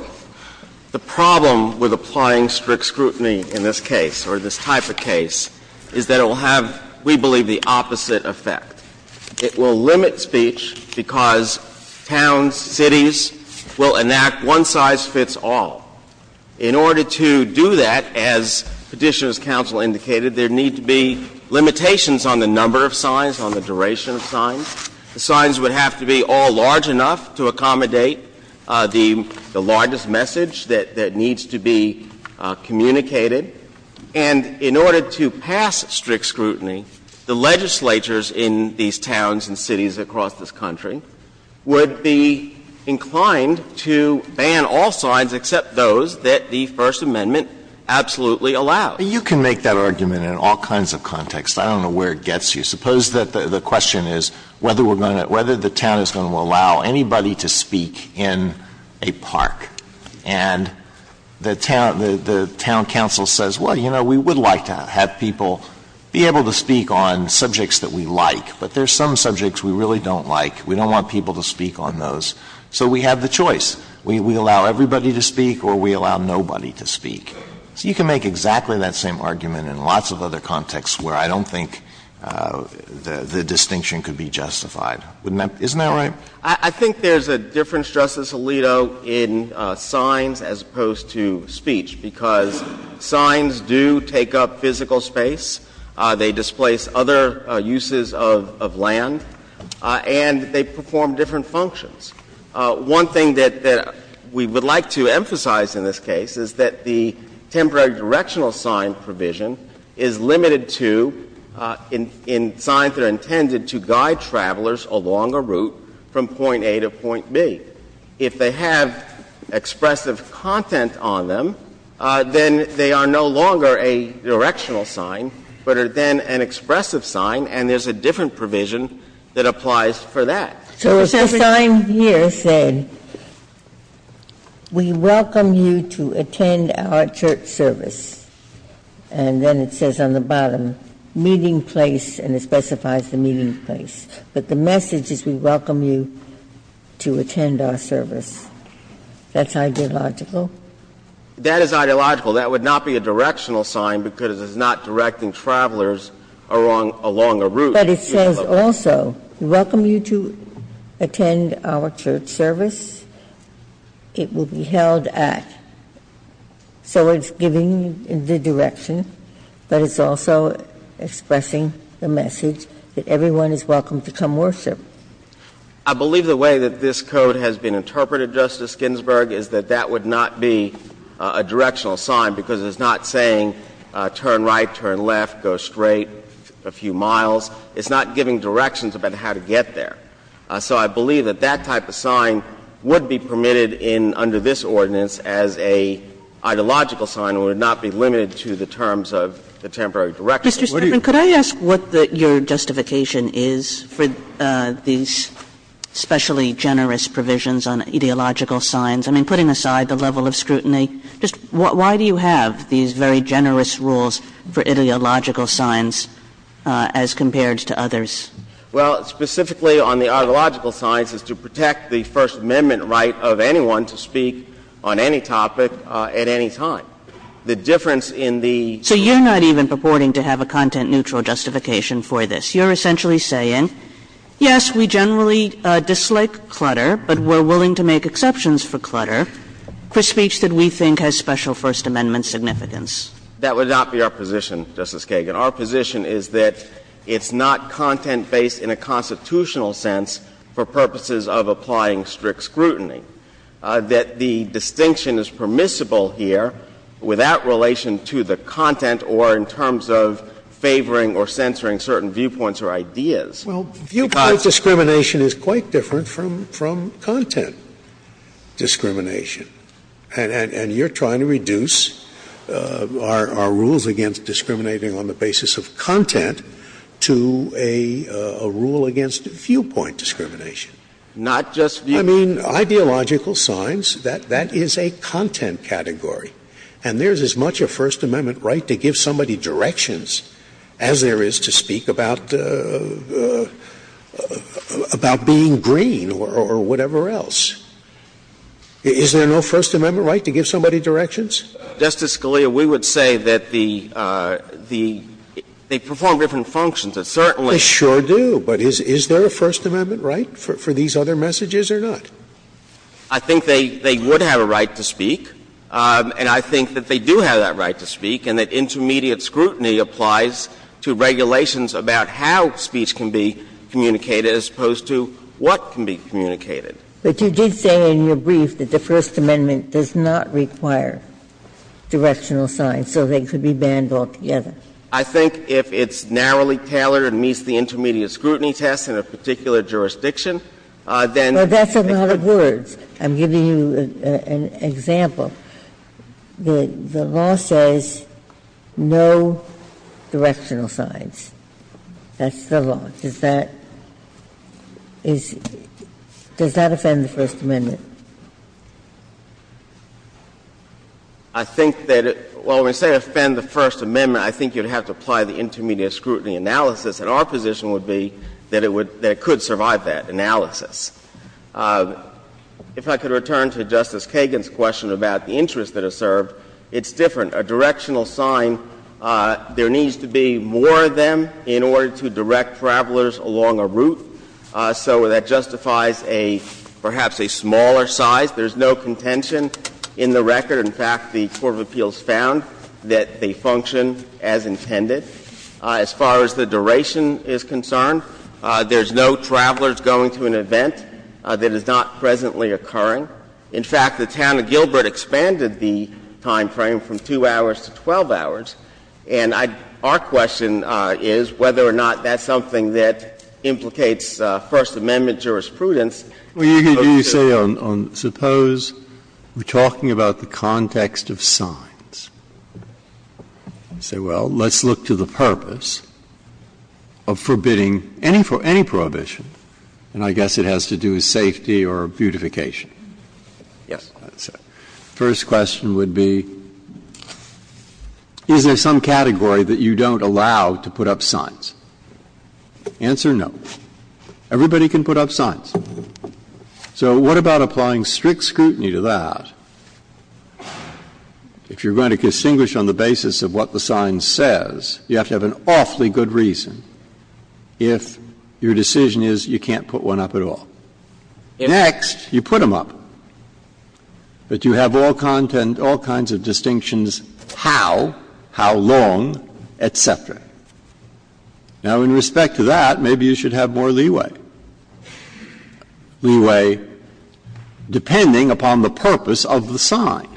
The problem with applying strict scrutiny in this case, or this type of case, is that it will have, we believe, the opposite effect. It will limit speech because towns, cities will enact one-size-fits-all. In order to do that, as Petitioner's counsel indicated, there need to be limitations on the number of signs, on the duration of signs. The signs would have to be all large enough to accommodate the largest message that needs to be communicated. And in order to pass strict scrutiny, the legislatures in these towns and cities across this country would be inclined to ban all signs except those that the First Amendment absolutely allows. But you can make that argument in all kinds of contexts. I don't know where it gets you. Suppose that the question is whether we're going to — whether the town is going to allow anybody to speak in a park. And the town — the town counsel says, well, you know, we would like to have people be able to speak on subjects that we like, but there are some subjects we really don't like. We don't want people to speak on those. So we have the choice. We allow everybody to speak or we allow nobody to speak. So you can make exactly that same argument in lots of other contexts where I don't think the distinction could be justified. Wouldn't that — isn't that right? I think there's a difference, Justice Alito, in signs as opposed to speech, because signs do take up physical space. They displace other uses of land. And they perform different functions. One thing that we would like to emphasize in this case is that the temporary directional sign provision is limited to — in signs that are intended to guide travelers along a route from point A to point B. If they have expressive content on them, then they are no longer a directional sign, but are then an expressive sign, and there's a different provision that applies for that. So if a sign here said, we welcome you to attend our church service, and then it says on the bottom, meeting place, and it specifies the meeting place. But the message is, we welcome you to attend our service. That's ideological? That is ideological. That would not be a directional sign because it's not directing travelers along a route. But it says also, we welcome you to attend our church service. It will be held at. So it's giving the direction, but it's also expressing the message that everyone is welcome to come worship. I believe the way that this code has been interpreted, Justice Ginsburg, is that that would not be a directional sign because it's not saying turn right, turn left, go straight a few miles. It's not giving directions about how to get there. So I believe that that type of sign would be permitted under this ordinance as a ideological sign, and would not be limited to the terms of the temporary direction. Kagan. Kagan. Could I ask what your justification is for these specially generous provisions on ideological signs? I mean, putting aside the level of scrutiny, just why do you have these very generous rules for ideological signs as compared to others? Well, specifically on the ideological signs is to protect the First Amendment right of anyone to speak on any topic at any time. The difference in the ---- So you're not even purporting to have a content-neutral justification for this. You're essentially saying, yes, we generally dislike clutter, but we're willing to make exceptions for clutter for speech that we think has special First Amendment significance. That would not be our position, Justice Kagan. Our position is that it's not content-based in a constitutional sense for purposes of applying strict scrutiny, that the distinction is permissible here without relation to the content or in terms of favoring or censoring certain viewpoints or ideas, because ---- Well, viewpoint discrimination is quite different from content discrimination. And you're trying to reduce our rules against discriminating on the basis of content to a rule against viewpoint discrimination. Not just viewpoint. I mean, ideological signs, that is a content category. And there is as much a First Amendment right to give somebody directions as there is to speak about being green or whatever else. Is there no First Amendment right to give somebody directions? Justice Scalia, we would say that the ---- they perform different functions. It certainly ---- They sure do. But is there a First Amendment right for these other messages or not? I think they would have a right to speak. And I think that they do have that right to speak, and that intermediate scrutiny applies to regulations about how speech can be communicated as opposed to what can be communicated. But you did say in your brief that the First Amendment does not require directional signs, so they could be banned altogether. I think if it's narrowly tailored and meets the intermediate scrutiny test in a particular jurisdiction, then ---- Well, that's a lot of words. I'm giving you an example. The law says no directional signs. That's the law. Does that ---- does that offend the First Amendment? I think that it ---- well, when we say offend the First Amendment, I think you would have to apply the intermediate scrutiny analysis, and our position would be that it would ---- that it could survive that analysis. If I could return to Justice Kagan's question about the interests that are served, it's different. A directional sign, there needs to be more of them in order to direct travelers along a route, so that justifies a ---- perhaps a smaller size. There's no contention in the record. In fact, the court of appeals found that they function as intended. As far as the duration is concerned, there's no travelers going to an event that is not presently occurring. In fact, the town of Gilbert expanded the time frame from 2 hours to 12 hours, and I ---- our question is whether or not that's something that implicates First Amendment jurisprudence. Breyer, you say on ---- suppose we're talking about the context of signs, and say, well, let's look to the purpose of forbidding any prohibition, and I guess it has to do with safety or beautification. Yes. Breyer, that's it. First question would be, is there some category that you don't allow to put up signs? Answer, no. Everybody can put up signs. So what about applying strict scrutiny to that? If you're going to distinguish on the basis of what the sign says, you have to have an awfully good reason if your decision is you can't put one up at all. Next, you put them up. But you have all content, all kinds of distinctions, how, how long, et cetera. Now, in respect to that, maybe you should have more leeway, leeway depending upon the purpose of the sign.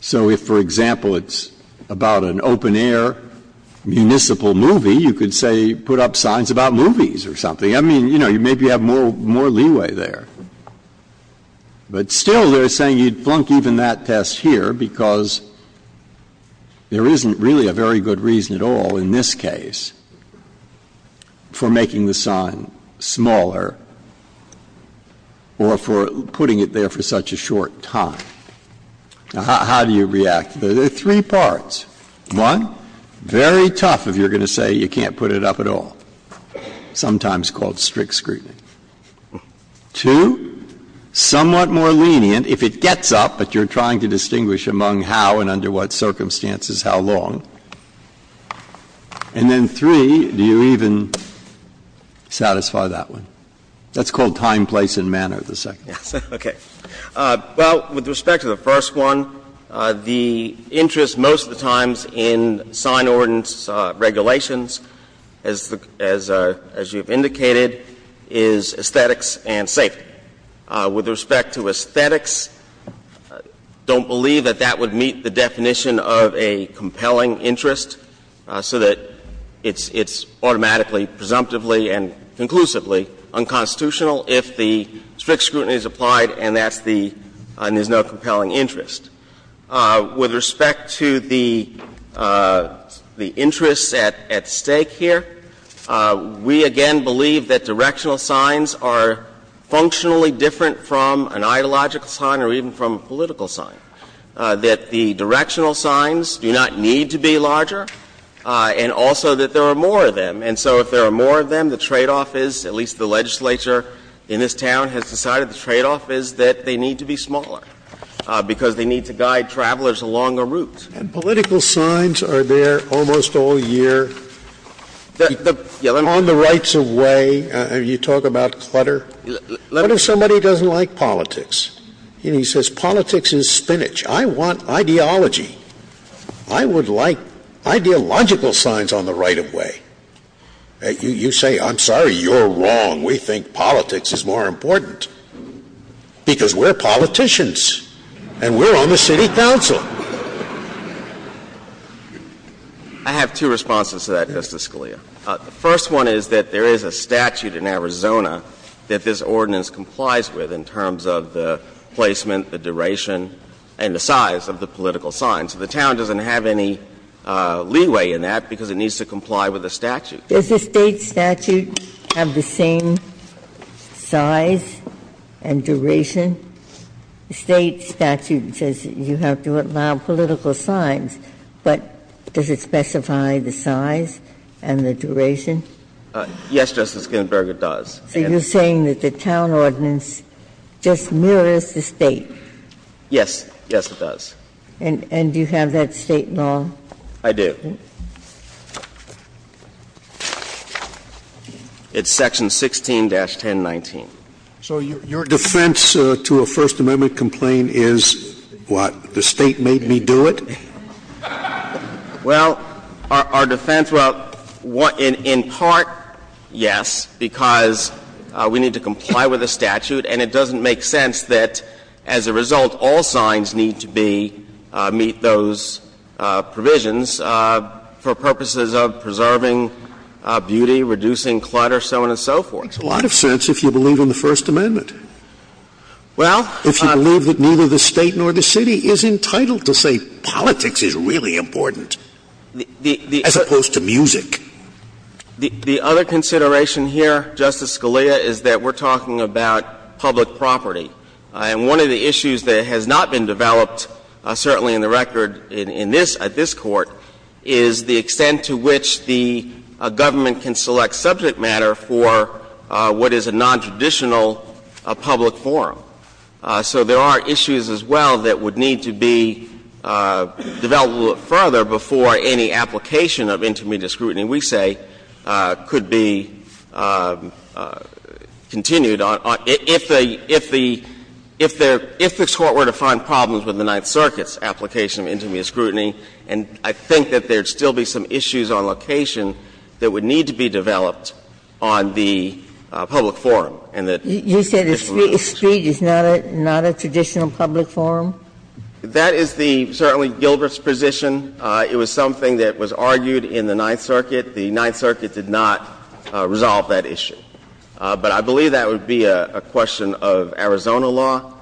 So if, for example, it's about an open-air municipal movie, you could say put up signs about movies or something. I mean, you know, maybe you have more leeway there. But still they're saying you'd flunk even that test here because there isn't really a very good reason at all in this case for making the sign smaller or for putting it there for such a short time. Now, how do you react? There are three parts. One, very tough if you're going to say you can't put it up at all. Sometimes called strict scrutiny. Two, somewhat more lenient if it gets up, but you're trying to distinguish among how and under what circumstances, how long. And then three, do you even satisfy that one? That's called time, place, and manner, the second one. Yes, okay. Well, with respect to the first one, the interest most of the times in sign ordinance regulations, as you've indicated, is aesthetics and safety. With respect to aesthetics, don't believe that that would meet the definition of a compelling interest so that it's automatically, presumptively, and conclusively unconstitutional if the strict scrutiny is applied and that's the – and there's no compelling interest. With respect to the interests at stake here, we again believe that directional signs are functionally different from an ideological sign or even from a political sign, that the directional signs do not need to be larger and also that there are more of them. And so if there are more of them, the tradeoff is, at least the legislature in this town has decided, the tradeoff is that they need to be smaller because they need to guide travelers along a route. And political signs are there almost all year on the rights of way. You talk about clutter. What if somebody doesn't like politics and he says politics is spinach? I want ideology. I would like ideological signs on the right of way. You say, I'm sorry, you're wrong. We think politics is more important because we're politicians and we're on the city council. I have two responses to that, Justice Scalia. The first one is that there is a statute in Arizona that this ordinance complies with in terms of the placement, the duration, and the size of the political signs. The town doesn't have any leeway in that because it needs to comply with the statute. Does the State statute have the same size and duration? The State statute says you have to allow political signs, but does it specify the size and the duration? Yes, Justice Ginsburg, it does. So you're saying that the town ordinance just mirrors the State? Yes. Yes, it does. And do you have that State law? I do. It's section 16-1019. So your defense to a First Amendment complaint is, what, the State made me do it? Well, our defense, well, in part, yes, because we need to comply with the statute and it doesn't make sense that, as a result, all signs need to be, meet those provisions. For purposes of preserving beauty, reducing clutter, so on and so forth. It makes a lot of sense if you believe in the First Amendment. Well, I'm not going to. If you believe that neither the State nor the City is entitled to say politics is really important, as opposed to music. The other consideration here, Justice Scalia, is that we're talking about public property. And one of the issues that has not been developed, certainly in the record in this case, at this Court, is the extent to which the government can select subject matter for what is a nontraditional public forum. So there are issues as well that would need to be developed a little further before any application of intermediate scrutiny, we say, could be continued on, if the Court were to find problems with the Ninth Circuit's application of intermediate scrutiny. And I think that there would still be some issues on location that would need to be developed on the public forum, and that is removed. You say the street is not a traditional public forum? That is the, certainly, Gilbreth's position. It was something that was argued in the Ninth Circuit. The Ninth Circuit did not resolve that issue. But I believe that would be a question of Arizona law.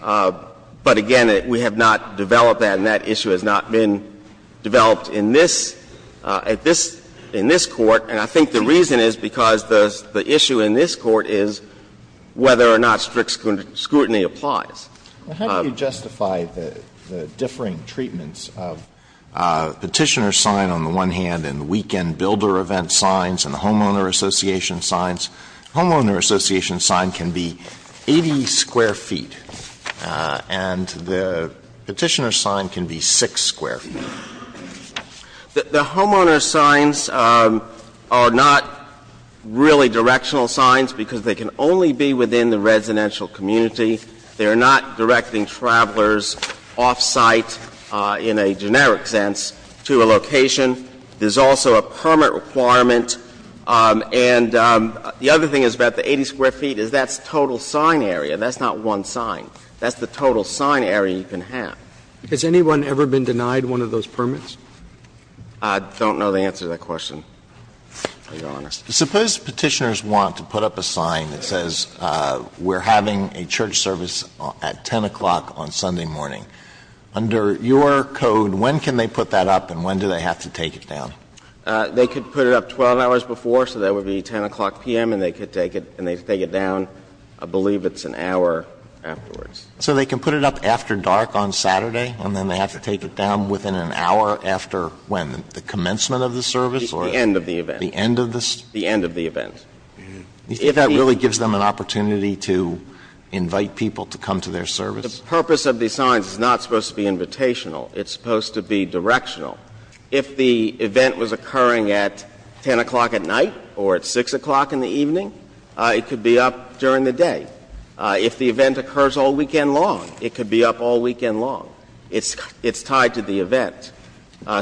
But again, we have not developed that, and that issue has not been developed in this, at this, in this Court. And I think the reason is because the issue in this Court is whether or not strict scrutiny applies. Alito, how do you justify the differing treatments of Petitioner's sign on the one hand and the weekend builder event signs and the Homeowner Association signs? The Homeowner Association sign can be 80 square feet, and the Petitioner's sign can be 6 square feet. The Homeowner's signs are not really directional signs because they can only be within the residential community. They are not directing travelers off-site in a generic sense to a location. There's also a permit requirement. And the other thing is about the 80 square feet is that's total sign area. That's not one sign. That's the total sign area you can have. Has anyone ever been denied one of those permits? I don't know the answer to that question, Your Honor. Suppose Petitioners want to put up a sign that says we're having a church service at 10 o'clock on Sunday morning. Under your code, when can they put that up and when do they have to take it down? They could put it up 12 hours before, so that would be 10 o'clock p.m., and they could take it and they take it down, I believe it's an hour afterwards. So they can put it up after dark on Saturday and then they have to take it down within an hour after when? The commencement of the service or? The end of the event. The end of the? The end of the event. Do you think that really gives them an opportunity to invite people to come to their service? The purpose of these signs is not supposed to be invitational. It's supposed to be directional. If the event was occurring at 10 o'clock at night or at 6 o'clock in the evening, it could be up during the day. If the event occurs all weekend long, it could be up all weekend long. It's tied to the event.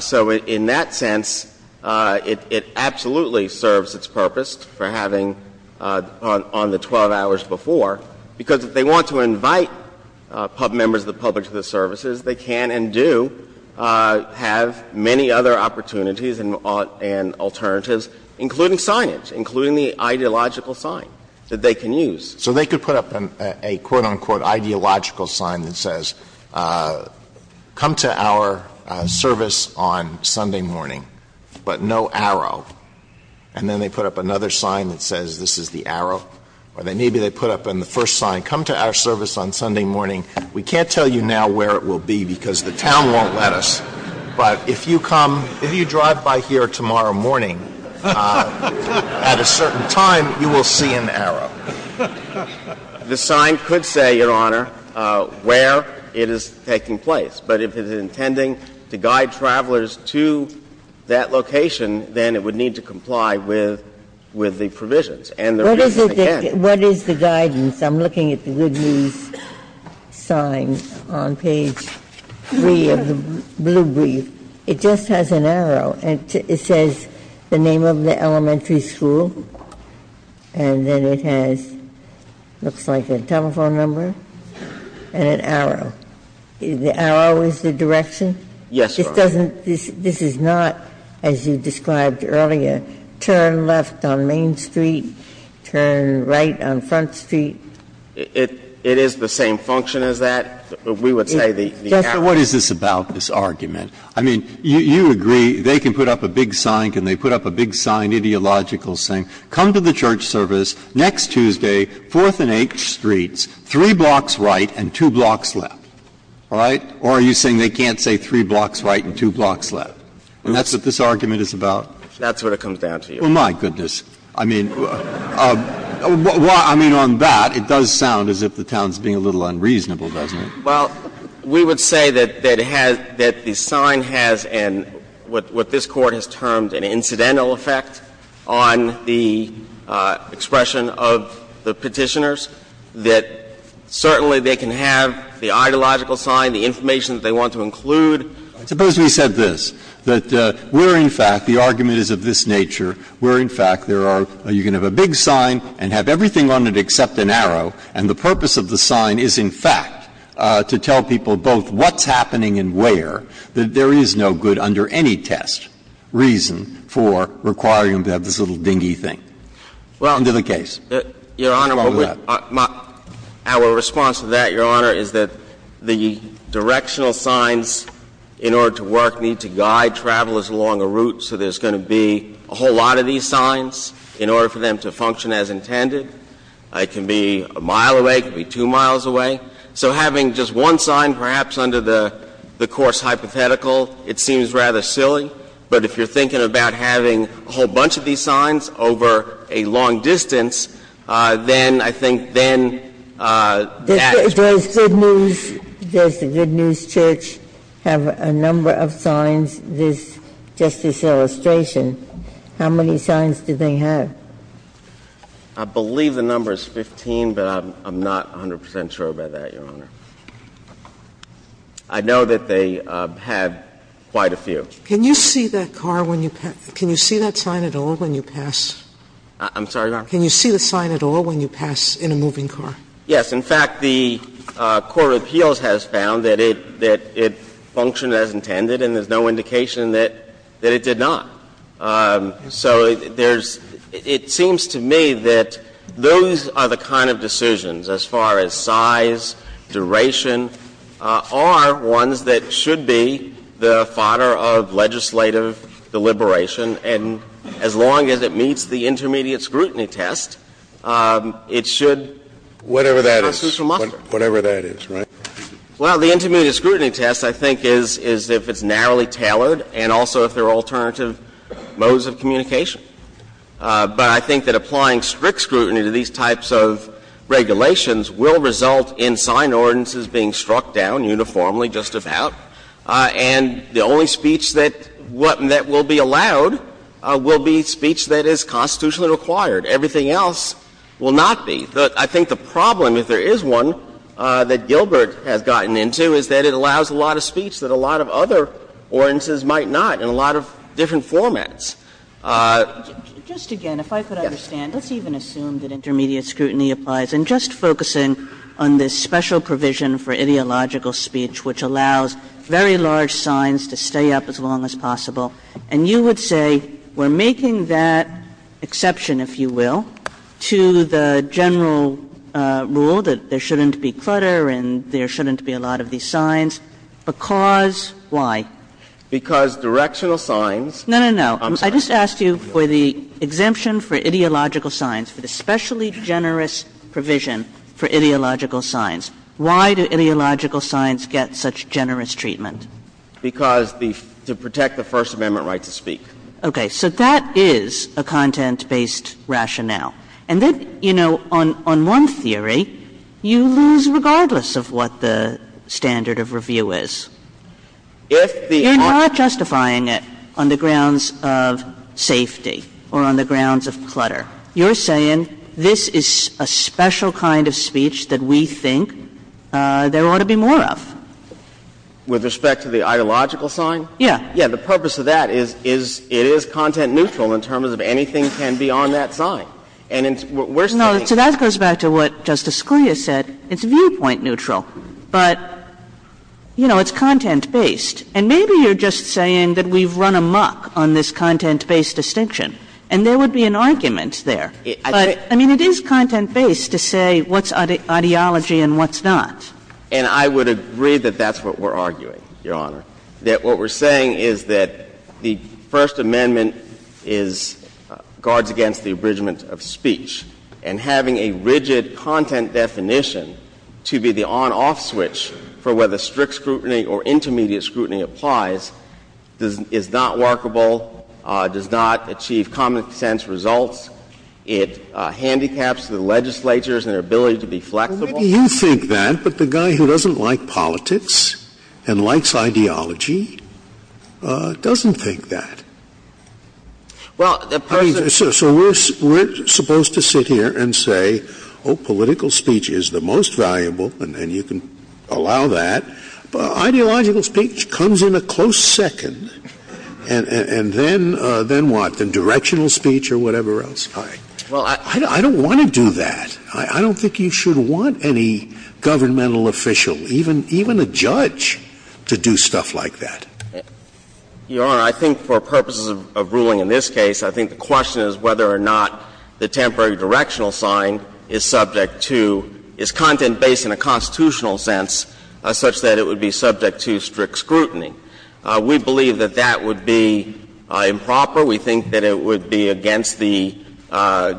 So in that sense, it absolutely serves its purpose for having on the 12 hours before, because if they want to invite members of the public to the services, they can and do have many other opportunities and alternatives, including signage, including the ideological sign that they can use. So they could put up a quote, unquote, ideological sign that says, come to our service on Sunday morning, but no arrow, and then they put up another sign that says this is the arrow, or maybe they put up in the first sign, come to our service on Sunday morning. We can't tell you now where it will be because the town won't let us, but if you come, if you drive by here tomorrow morning at a certain time, you will see an arrow. The sign could say, Your Honor, where it is taking place, but if it's intending to guide travelers to that location, then it would need to comply with the provisions. And there is the reason it can't. Ginsburg. What is the guidance? I'm looking at the Good News sign on page 3 of the blue brief. It just has an arrow. It says the name of the elementary school, and then it has, looks like, a telephone number and an arrow. The arrow is the direction. This doesn't – this is not, as you described earlier, turn left on Main Street and turn right on Front Street. It is the same function as that. We would say the arrow. Just what is this about, this argument? I mean, you agree they can put up a big sign, can they put up a big sign, ideological saying, come to the church service next Tuesday, 4th and 8th Streets, three blocks right and two blocks left. All right? Or are you saying they can't say three blocks right and two blocks left? And that's what this argument is about? That's what it comes down to. Well, my goodness. I mean, on that, it does sound as if the town is being a little unreasonable, doesn't it? Well, we would say that the sign has an, what this Court has termed an incidental effect on the expression of the Petitioners, that certainly they can have the ideological sign, the information that they want to include. Suppose we said this, that we're in fact, the argument is of this nature, we're in fact, there are, you can have a big sign and have everything on it except an arrow, and the purpose of the sign is in fact to tell people both what's happening and where, that there is no good under any test reason for requiring them to have this little dingy thing. Under the case. Well, Your Honor, our response to that, Your Honor, is that the directional signs in order to work need to guide travelers along a route, so there's going to be a whole lot of these signs in order for them to function as intended. It can be a mile away, it can be two miles away. So having just one sign, perhaps under the course hypothetical, it seems rather silly, but if you're thinking about having a whole bunch of these signs over a long distance, then I think then that's. There's good news, there's the good news, Church, have a number of signs, this, this illustration, how many signs do they have? I believe the number is 15, but I'm not 100 percent sure about that, Your Honor. I know that they have quite a few. Can you see that car when you pass, can you see that sign at all when you pass? I'm sorry, Your Honor? Can you see the sign at all when you pass in a moving car? Yes. In fact, the court of appeals has found that it, that it functioned as intended and there's no indication that it did not. So there's – it seems to me that those are the kind of decisions as far as size, duration, are ones that should be the fodder of legislative deliberation. And as long as it meets the intermediate scrutiny test, it should be constitutional muster. Whatever that is, right? Well, the intermediate scrutiny test, I think, is if it's narrowly tailored and also if there are alternative modes of communication. But I think that applying strict scrutiny to these types of regulations will result in sign ordinances being struck down uniformly, just about. And the only speech that will be allowed will be speech that is constitutionally required. Everything else will not be. I think the problem, if there is one, that Gilbert has gotten into is that it allows a lot of speech that a lot of other ordinances might not in a lot of different formats. Just again, if I could understand, let's even assume that intermediate scrutiny applies. And just focusing on this special provision for ideological speech, which allows very large signs to stay up as long as possible, and you would say we're making that exception, if you will, to the general rule that there shouldn't be clutter and there shouldn't be a lot of these signs, because why? Because directional signs. No, no, no. I just asked you for the exemption for ideological signs, for the specially generous provision for ideological signs. Why do ideological signs get such generous treatment? Because the to protect the First Amendment right to speak. Okay. So that is a content-based rationale. And then, you know, on one theory, you lose regardless of what the standard of review is. If the article You're not justifying it on the grounds of safety or on the grounds of clutter. You're saying this is a special kind of speech that we think there ought to be more of. With respect to the ideological sign? Yes. Yes, the purpose of that is it is content-neutral in terms of anything can be on that sign. And we're saying No, so that goes back to what Justice Scalia said. It's viewpoint-neutral, but, you know, it's content-based. And maybe you're just saying that we've run amok on this content-based distinction, and there would be an argument there. But, I mean, it is content-based to say what's ideology and what's not. And I would agree that that's what we're arguing, Your Honor, that what we're saying is that the First Amendment is guards against the abridgment of speech. And having a rigid content definition to be the on-off switch for whether strict scrutiny or intermediate scrutiny applies is not workable, does not achieve common-sense results. It handicaps the legislatures and their ability to be flexible. Well, maybe you think that, but the guy who doesn't like politics and likes ideology doesn't think that. Well, the person I mean, so we're supposed to sit here and say, oh, political speech is the most valuable, and you can allow that, but ideological speech comes in a close second, and then what? Then directional speech or whatever else? Well, I don't want to do that. I don't think you should want any governmental official, even a judge, to do stuff like that. Your Honor, I think for purposes of ruling in this case, I think the question is whether or not the temporary directional sign is subject to its content-based in a constitutional sense such that it would be subject to strict scrutiny. We believe that that would be improper. We think that it would be against the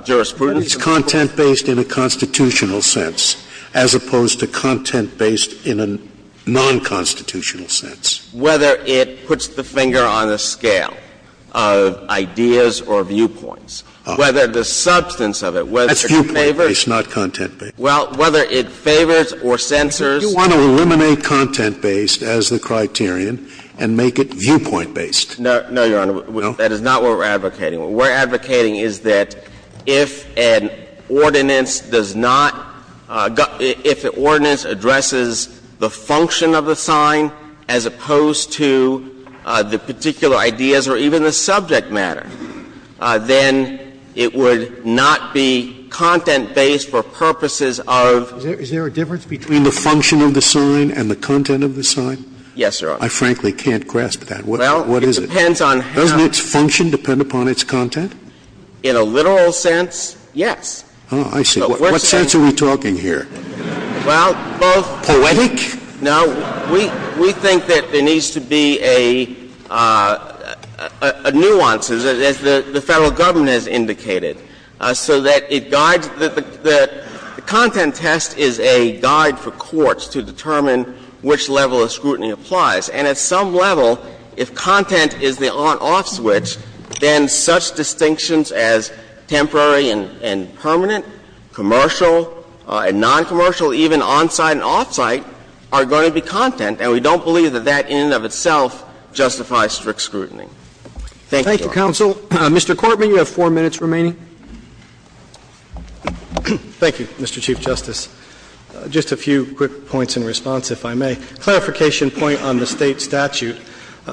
jurisprudence of the Court. It's content-based in a constitutional sense, as opposed to content-based in a non-constitutional sense. Whether it puts the finger on the scale of ideas or viewpoints, whether the substance of it, whether it favors That's viewpoint-based, not content-based. Well, whether it favors or censors If you want to eliminate content-based as the criterion and make it viewpoint-based No, Your Honor, that is not what we're advocating. What we're advocating is that if an ordinance does not got – if an ordinance addresses the function of the sign as opposed to the particular ideas or even the subject matter, then it would not be content-based for purposes of Is there a difference between the function of the sign and the content of the sign? Yes, Your Honor. I frankly can't grasp that. What is it? Well, it depends on how Does its function depend upon its content? In a literal sense, yes. Oh, I see. What sense are we talking here? Well, both Poetic? No. We think that there needs to be a nuance, as the Federal Government has indicated, so that it guides – the content test is a guide for courts to determine which level of scrutiny applies. And at some level, if content is the on-off switch, then such distinctions as temporary and permanent, commercial and noncommercial, even on-site and off-site, are going to be content. And we don't believe that that in and of itself justifies strict scrutiny. Thank you, Your Honor. Thank you, counsel. Mr. Cortman, you have four minutes remaining. Thank you, Mr. Chief Justice. Just a few quick points in response, if I may. A clarification point on the State statute.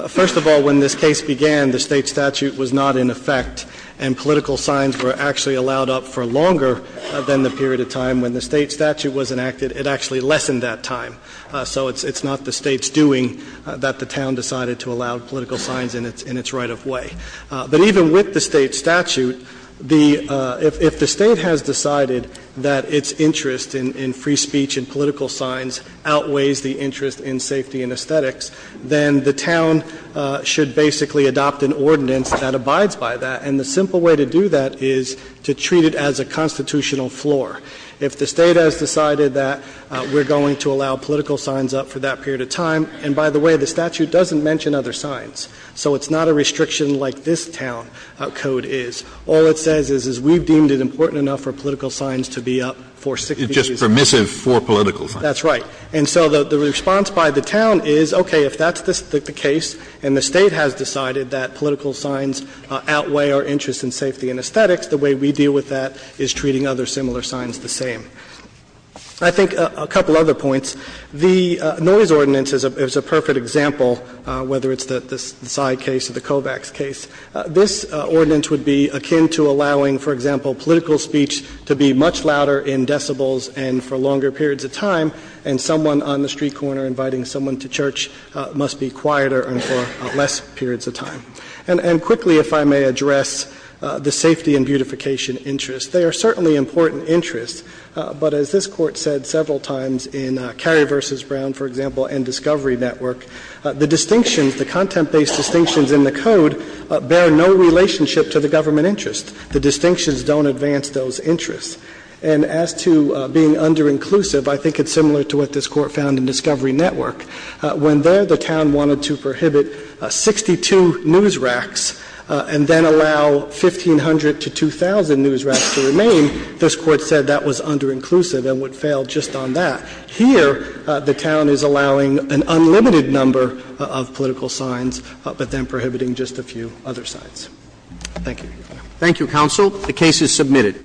First of all, when this case began, the State statute was not in effect, and political signs were actually allowed up for longer than the period of time when the State statute was enacted. It actually lessened that time, so it's not the State's doing that the town decided to allow political signs in its right-of-way. But even with the State statute, if the State has decided that its interest in free speech and political signs outweighs the interest in safety and aesthetics, then the town should basically adopt an ordinance that abides by that. And the simple way to do that is to treat it as a constitutional floor. If the State has decided that we're going to allow political signs up for that period of time, and by the way, the statute doesn't mention other signs, so it's not a restriction like this town code is. All it says is we've deemed it important enough for political signs to be up for 60 years. It's just permissive for political signs. That's right. And so the response by the town is, okay, if that's the case, and the State has decided that political signs outweigh our interest in safety and aesthetics, the way we deal with that is treating other similar signs the same. I think a couple other points. The noise ordinance is a perfect example, whether it's the side case or the Kovacs case. This ordinance would be akin to allowing, for example, political speech to be much louder in decibels and for longer periods of time, and someone on the street corner inviting someone to church must be quieter and for less periods of time. And quickly, if I may address the safety and beautification interest, they are certainly important interests, but as this Court said several times in Cary v. Brown, for example, and Discovery Network, the distinctions, the content-based distinctions in the code bear no relationship to the government interest. The distinctions don't advance those interests. And as to being under-inclusive, I think it's similar to what this Court found in Discovery Network. When there, the town wanted to prohibit 62 news racks and then allow 1,500 to 2,000 news racks to remain, this Court said that was under-inclusive and would fail just on that. Here, the town is allowing an unlimited number of political signs, but then prohibiting just a few other signs. Thank you. Roberts. Thank you, counsel. The case is submitted.